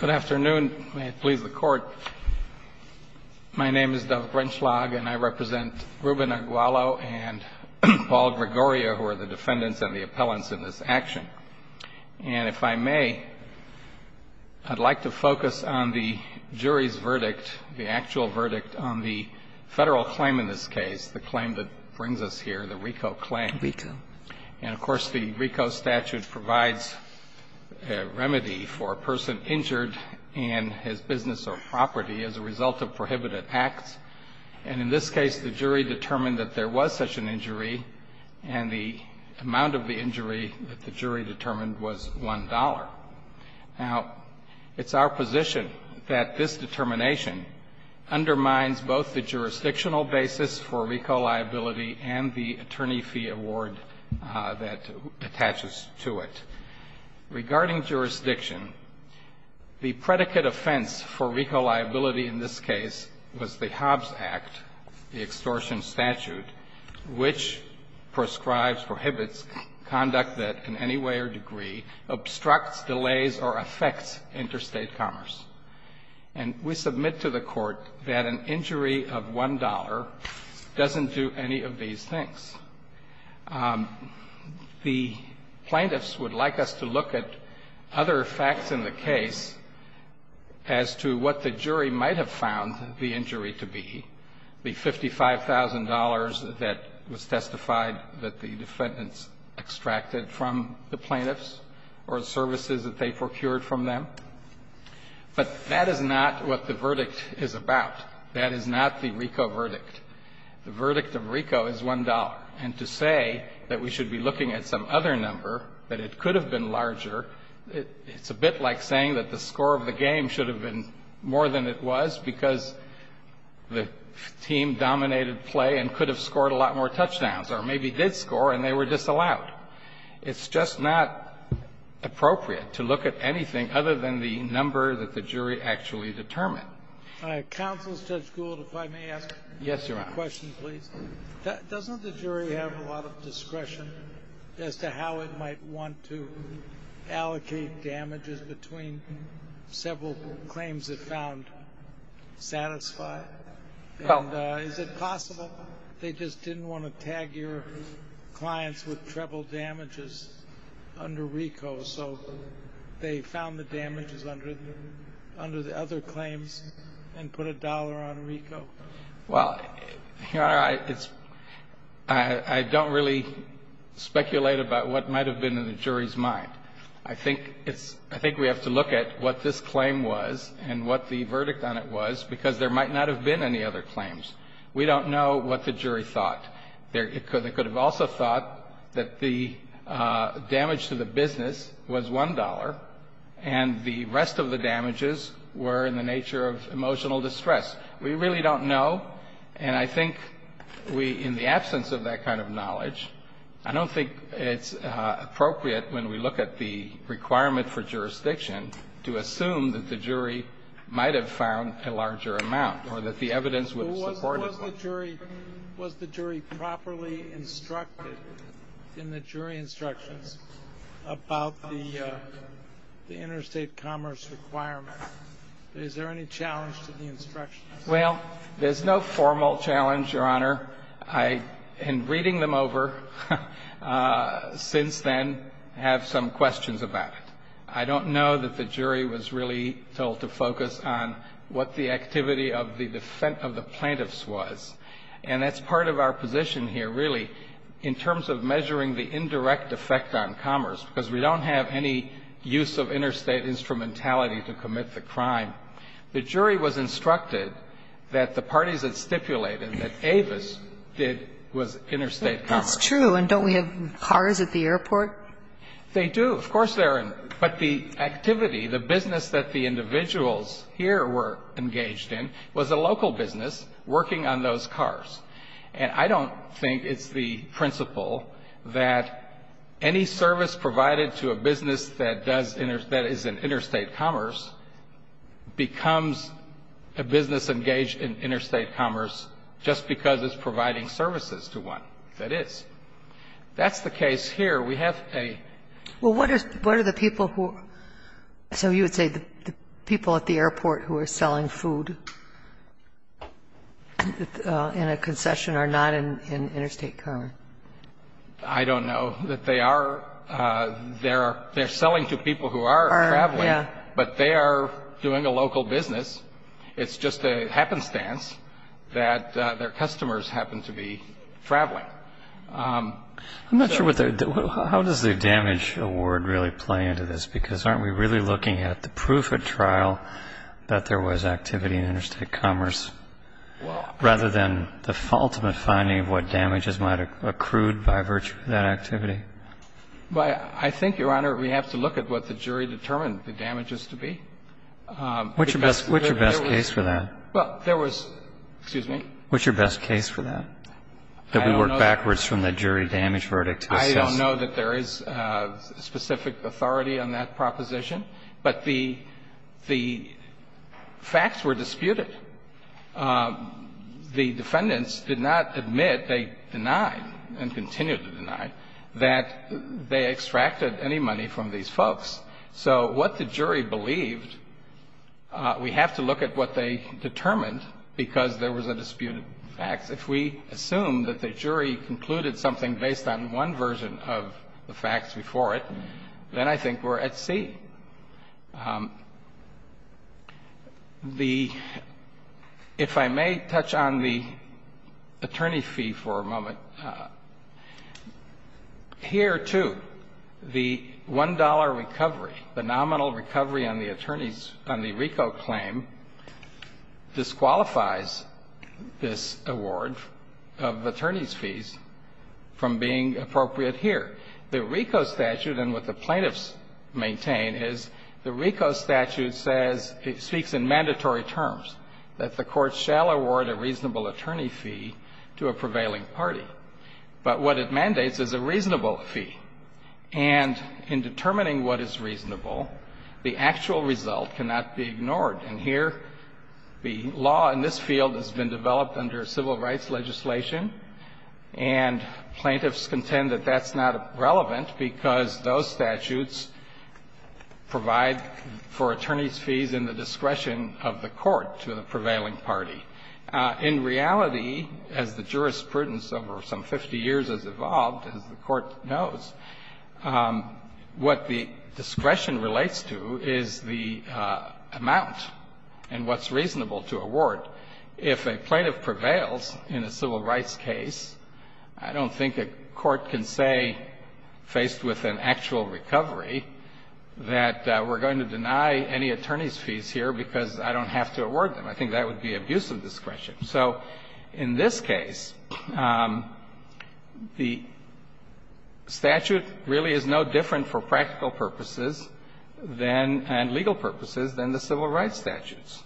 Good afternoon. May it please the Court. My name is Doug Rentschlag, and I represent Ruben Aguallo and Paul Gregoria, who are the defendants and the appellants in this action. And if I may, I'd like to focus on the jury's verdict, the actual verdict on the federal claim in this case, the claim that brings us here, the RICO claim. RICO. And, of course, the RICO statute provides a remedy for a person injured in his business or property as a result of prohibited acts. And in this case, the jury determined that there was such an injury, and the amount of the injury that the jury determined was $1. Now, it's our position that this determination undermines both the jurisdictional basis for RICO liability and the attorney fee award that attaches to it. Regarding jurisdiction, the predicate offense for RICO liability in this case was the Hobbs Act, the extortion statute, which prescribes, prohibits conduct that in any way or degree obstructs, delays, or affects interstate commerce. And we submit to the Court that an injury of $1 doesn't do any of these things. The plaintiffs would like us to look at other facts in the case as to what the jury might have found the injury to be, the $55,000 that was testified that the defendants extracted from the plaintiffs or services that they procured from them. But that is not what the verdict is about. That is not the RICO verdict. The verdict of RICO is $1. And to say that we should be looking at some other number, that it could have been larger, it's a bit like saying that the score of the game should have been more than it was, because the team dominated play and could have scored a lot more touchdowns, or maybe did score and they were disallowed. It's just not appropriate to look at anything other than the number that the jury actually determined. Counsel, Judge Gould, if I may ask a question, please. Yes, Your Honor. Doesn't the jury have a lot of discretion as to how it might want to allocate damages between several claims it found satisfied? Is it possible they just didn't want to tag your clients with treble damages under RICO, so they found the damages under the other claims and put a dollar on RICO? Well, Your Honor, I don't really speculate about what might have been in the jury's mind. I think we have to look at what this claim was and what the verdict on it was, because there might not have been any other claims. We don't know what the jury thought. They could have also thought that the damage to the business was $1, and the rest of the damages were in the nature of emotional distress. We really don't know. And I think we, in the absence of that kind of knowledge, I don't think it's appropriate when we look at the requirement for jurisdiction to assume that the jury might have found a larger amount or that the evidence would support it. Was the jury properly instructed in the jury instructions about the interstate commerce requirement? Is there any challenge to the instructions? Well, there's no formal challenge, Your Honor. I, in reading them over since then, have some questions about it. I don't know that the jury was really told to focus on what the activity of the plaintiffs was, and that's part of our position here, really, in terms of measuring the indirect effect on commerce, because we don't have any use of interstate instrumentality to commit the crime. The jury was instructed that the parties that stipulated that Avis did was interstate commerce. That's true. And don't we have cars at the airport? They do. Of course they are. But the activity, the business that the individuals here were engaged in was a local business working on those cars. And I don't think it's the principle that any service provided to a business that does inter — that is in interstate commerce becomes a business engaged in interstate commerce just because it's providing services to one that is. That's the case here. We have a — Well, what are the people who — so you would say the people at the airport who are selling food in a concession are not in interstate commerce? I don't know that they are. They're selling to people who are traveling, but they are doing a local business. It's just a happenstance that their customers happen to be traveling. I'm not sure what the — how does the damage award really play into this? Because aren't we really looking at the proof at trial that there was activity in interstate commerce rather than the ultimate finding of what damages might have accrued by virtue of that activity? I think, Your Honor, we have to look at what the jury determined the damages to be. What's your best case for that? Well, there was — excuse me? What's your best case for that? That we work backwards from the jury damage verdict. I don't know that there is specific authority on that proposition, but the facts were disputed. The defendants did not admit, they denied and continue to deny, that they extracted any money from these folks. So what the jury believed, we have to look at what they determined because there was a disputed fact. If we assume that the jury concluded something based on one version of the facts before it, then I think we're at C. The — if I may touch on the attorney fee for a moment. So here, too, the $1 recovery, the nominal recovery on the attorney's — on the RICO claim disqualifies this award of attorney's fees from being appropriate here. The RICO statute and what the plaintiffs maintain is the RICO statute says — it speaks in mandatory terms that the court shall award a reasonable attorney fee to a prevailing party. But what it mandates is a reasonable fee. And in determining what is reasonable, the actual result cannot be ignored. And here, the law in this field has been developed under civil rights legislation, and plaintiffs contend that that's not relevant because those statutes provide for attorney's fees in the discretion of the court to the prevailing party. In reality, as the jurisprudence over some 50 years has evolved, as the Court knows, what the discretion relates to is the amount and what's reasonable to award. If a plaintiff prevails in a civil rights case, I don't think a court can say, faced with an actual recovery, that we're going to deny any attorney's fees here because I don't have to award them. I think that would be abuse of discretion. So in this case, the statute really is no different for practical purposes than — and legal purposes than the civil rights statutes.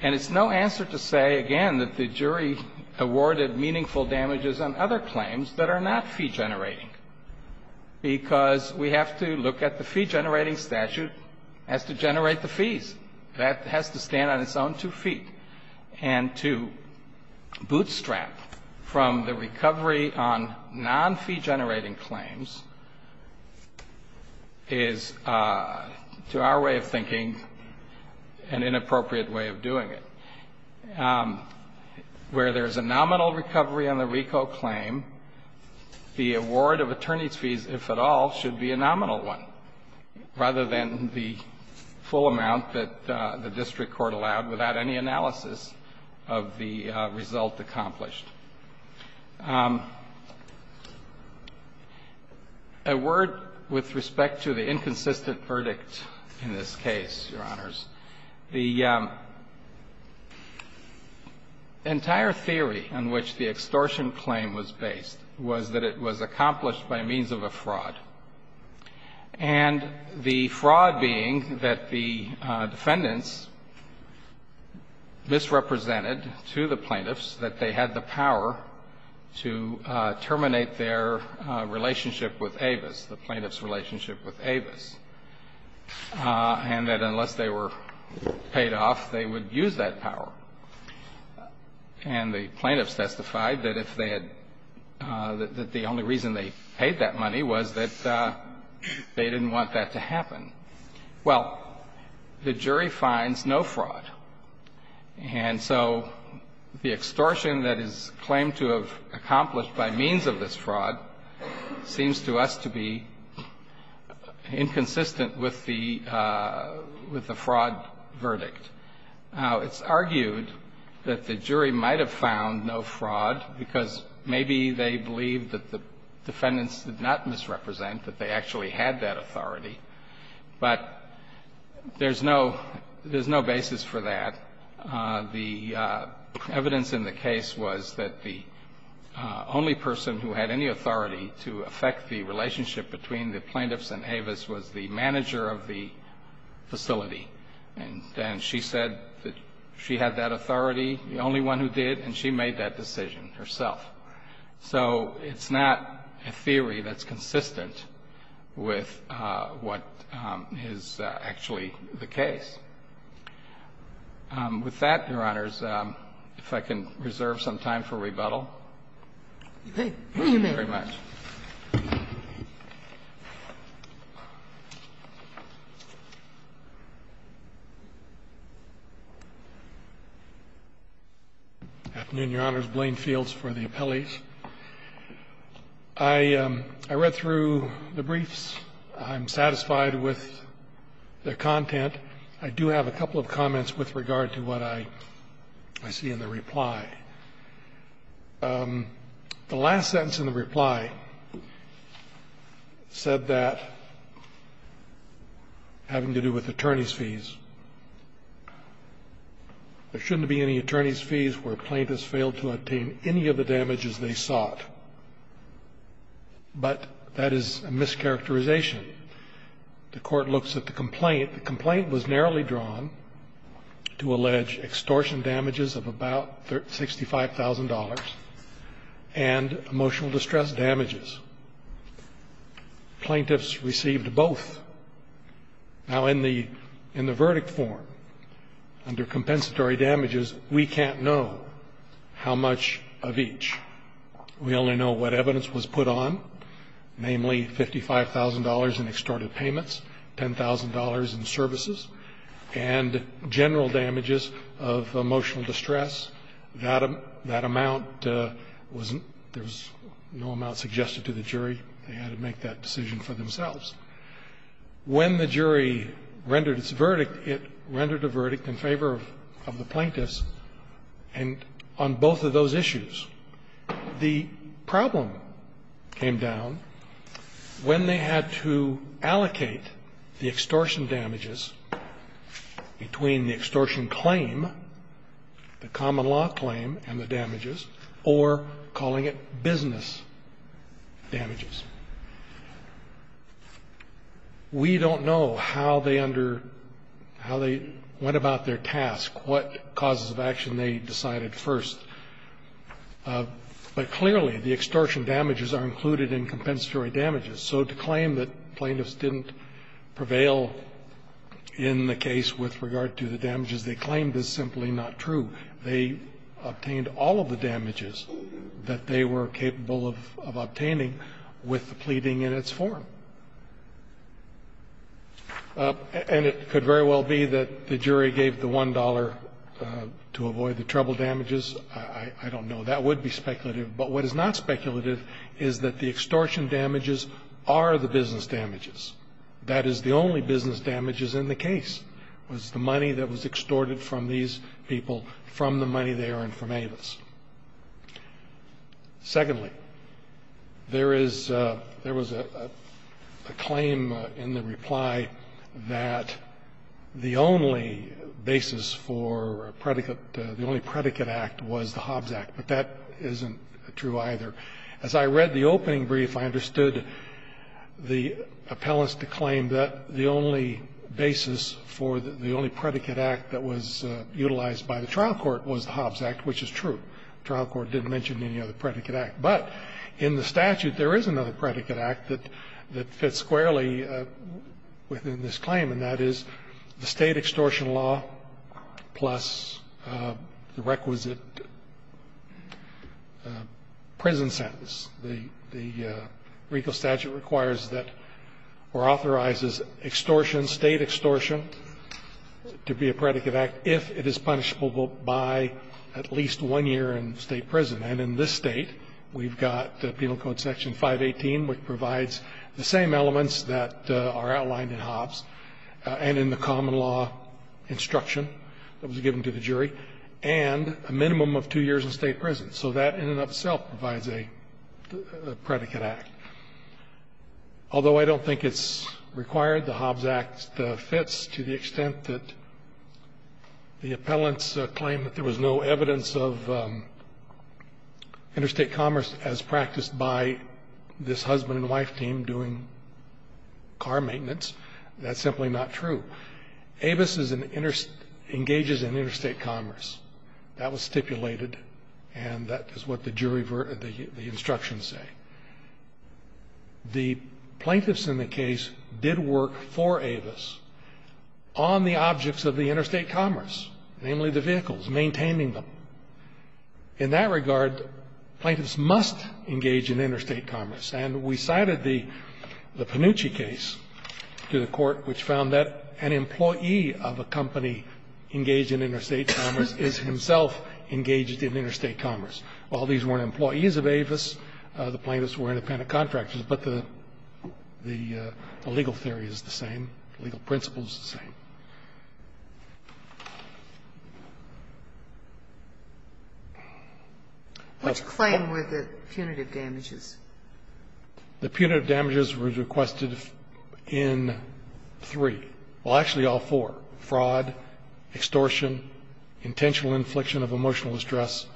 And it's no answer to say, again, that the jury awarded meaningful damages on other fee-generating because we have to look at the fee-generating statute has to generate the fees. That has to stand on its own two feet. And to bootstrap from the recovery on non-fee-generating claims is, to our way of thinking, an inappropriate way of doing it. Where there's a nominal recovery on the RICO claim, the award of attorney's fees, if at all, should be a nominal one rather than the full amount that the district court allowed without any analysis of the result accomplished. A word with respect to the inconsistent verdict in this case, Your Honors. The entire theory on which the extortion claim was based was that it was accomplished by means of a fraud, and the fraud being that the defendants misrepresented to the plaintiffs that they had the power to terminate their relationship with Avis, the plaintiff's relationship with Avis. And that unless they were paid off, they would use that power. And the plaintiffs testified that if they had the only reason they paid that money was that they didn't want that to happen. Well, the jury finds no fraud. And so the extortion that is claimed to have accomplished by means of this fraud seems to us to be inconsistent with the fraud verdict. Now, it's argued that the jury might have found no fraud because maybe they believed that the defendants did not misrepresent, that they actually had that authority. But there's no basis for that. The evidence in the case was that the only person who had any authority to affect the relationship between the plaintiffs and Avis was the manager of the facility. And she said that she had that authority, the only one who did, and she made that decision herself. So it's not a theory that's consistent with what is actually the case. With that, Your Honors, if I can reserve some time for rebuttal. Thank you very much. Afternoon, Your Honors. Blaine Fields for the appellees. I read through the briefs. I'm satisfied with the content. I do have a couple of comments with regard to what I see in the reply. The last sentence in the reply said that, having to do with attorney's fees, there shouldn't be any attorney's fees where a plaintiff has failed to obtain any of the damages they sought. But that is a mischaracterization. The Court looks at the complaint. The complaint was narrowly drawn to allege extortion damages of about $65,000 and emotional distress damages. Plaintiffs received both. Now, in the verdict form, under compensatory damages, we can't know how much of each. We only know what evidence was put on, namely $55,000 in extorted payments, $10,000 in services, and general damages of emotional distress. That amount was no amount suggested to the jury. They had to make that decision for themselves. When the jury rendered its verdict, it rendered a verdict in favor of the plaintiffs on both of those issues. The problem came down when they had to allocate the extortion damages between the extortion claim, the common law claim, and the damages, or calling it business damages. We don't know how they under – how they went about their task, what causes of action they decided first. But clearly, the extortion damages are included in compensatory damages. So to claim that plaintiffs didn't prevail in the case with regard to the damages they claimed is simply not true. They obtained all of the damages that they were capable of obtaining with the pleading in its form. And it could very well be that the jury gave the $1 to avoid the treble damages. I don't know. That would be speculative. But what is not speculative is that the extortion damages are the business damages. That is the only business damages in the case, was the money that was extorted from these people from the money they earned from Avis. Secondly, there is – there was a claim in the reply that the only basis for a predicate act was the Hobbs Act, but that isn't true either. As I read the opening brief, I understood the appellants to claim that the only basis for the only predicate act that was utilized by the trial court was the Hobbs Act, which is true. The trial court didn't mention any other predicate act. But in the statute, there is another predicate act that fits squarely within this the requisite prison sentence. The legal statute requires that or authorizes extortion, State extortion, to be a predicate act if it is punishable by at least one year in State prison. And in this State, we've got the Penal Code Section 518, which provides the same elements that are outlined in Hobbs and in the common law instruction that was given to the jury, and a minimum of two years in State prison. So that in and of itself provides a predicate act. Although I don't think it's required, the Hobbs Act fits to the extent that the appellants claim that there was no evidence of interstate commerce as practiced by this husband and wife team doing car maintenance. That's simply not true. Avis engages in interstate commerce. That was stipulated, and that is what the jury verdict, the instructions say. The plaintiffs in the case did work for Avis on the objects of the interstate commerce, namely the vehicles, maintaining them. In that regard, plaintiffs must engage in interstate commerce. And we cited the Panucci case to the Court, which found that an employee of a company engaged in interstate commerce is himself engaged in interstate commerce. While these weren't employees of Avis, the plaintiffs were independent contractors. But the legal theory is the same, the legal principle is the same. Sotomayor, which claim were the punitive damages? The punitive damages were requested in three, well, actually all four, fraud, extortion, intentional infliction of emotional distress,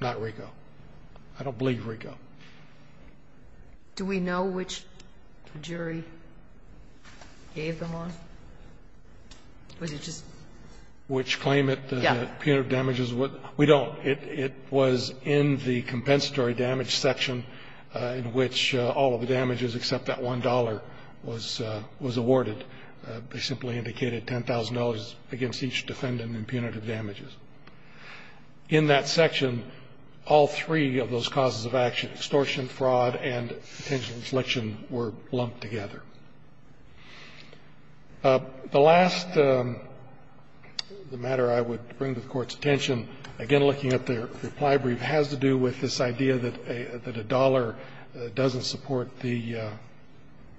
not RICO. I don't believe RICO. Do we know which jury gave them on? Was it just? Which claim that the punitive damages were? We don't. It was in the compensatory damage section in which all of the damages except that $1 was awarded. They simply indicated $10,000 against each defendant in punitive damages. In that section, all three of those causes of action, extortion, fraud, and potential infliction, were lumped together. The last matter I would bring to the Court's attention, again, looking at the reply brief, has to do with this idea that a dollar doesn't support the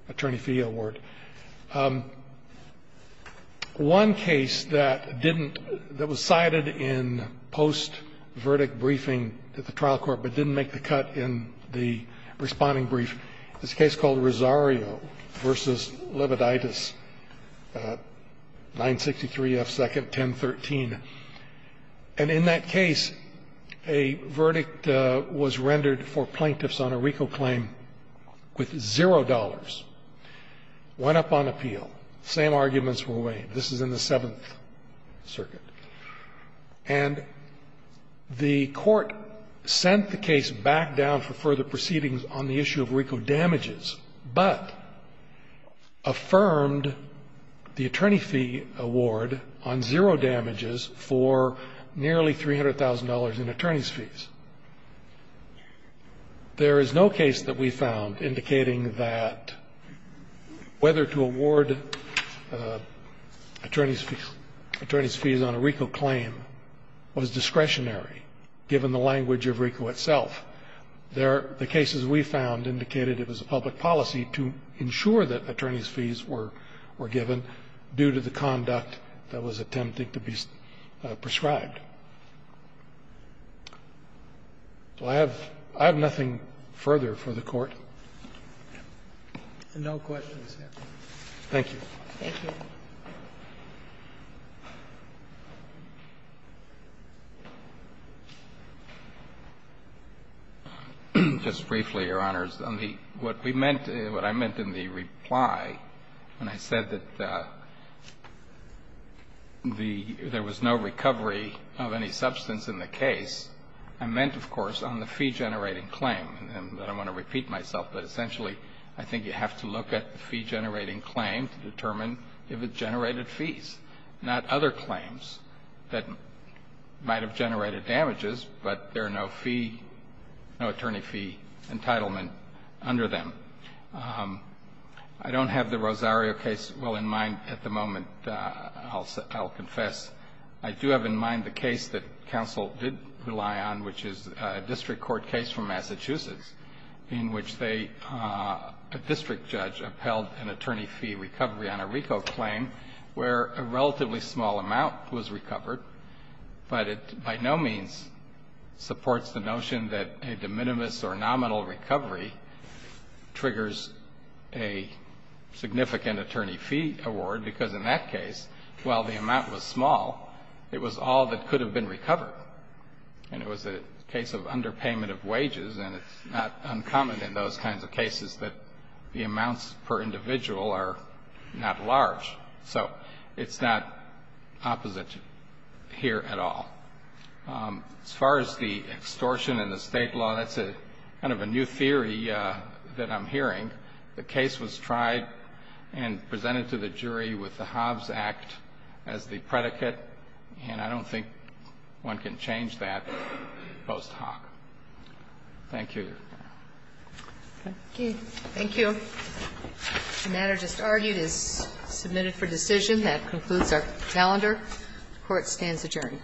attorney fee award. One case that didn't – that was cited in post-verdict briefing at the trial court but didn't make the cut in the responding brief is a case called Rosario. Rosario v. Levoditis, 963 F. 2nd, 1013. And in that case, a verdict was rendered for plaintiffs on a RICO claim with zero dollars, went up on appeal, same arguments were waived. This is in the Seventh Circuit. And the Court sent the case back down for further proceedings on the issue of RICO damages, but affirmed the attorney fee award on zero damages for nearly $300,000 in attorney's fees. There is no case that we found indicating that whether to award attorney's fees on a RICO claim was discretionary, given the language of RICO itself. The cases we found indicated it was a public policy to ensure that attorney's fees were given due to the conduct that was attempting to be prescribed. So I have nothing further for the Court. No questions, Your Honor. Thank you. Thank you. Just briefly, Your Honors. On the what we meant, what I meant in the reply when I said that there was no recovery of any substance in the case, I meant, of course, on the fee-generating claim to determine if it generated fees, not other claims that might have generated damages, but there are no fee, no attorney fee entitlement under them. I don't have the Rosario case well in mind at the moment, I'll confess. I do have in mind the case that counsel did rely on, which is a district court case from Massachusetts, in which they, a district judge, upheld an attorney fee recovery on a RICO claim where a relatively small amount was recovered, but it by no means supports the notion that a de minimis or nominal recovery triggers a significant attorney fee award, because in that case, while the amount was small, it was all that uncommon in those kinds of cases that the amounts per individual are not large. So it's not opposite here at all. As far as the extortion in the state law, that's kind of a new theory that I'm hearing. The case was tried and presented to the jury with the Hobbs Act as the predicate, and I don't think one can change that post hoc. Thank you. Thank you. The matter just argued is submitted for decision. That concludes our calendar. The Court stands adjourned.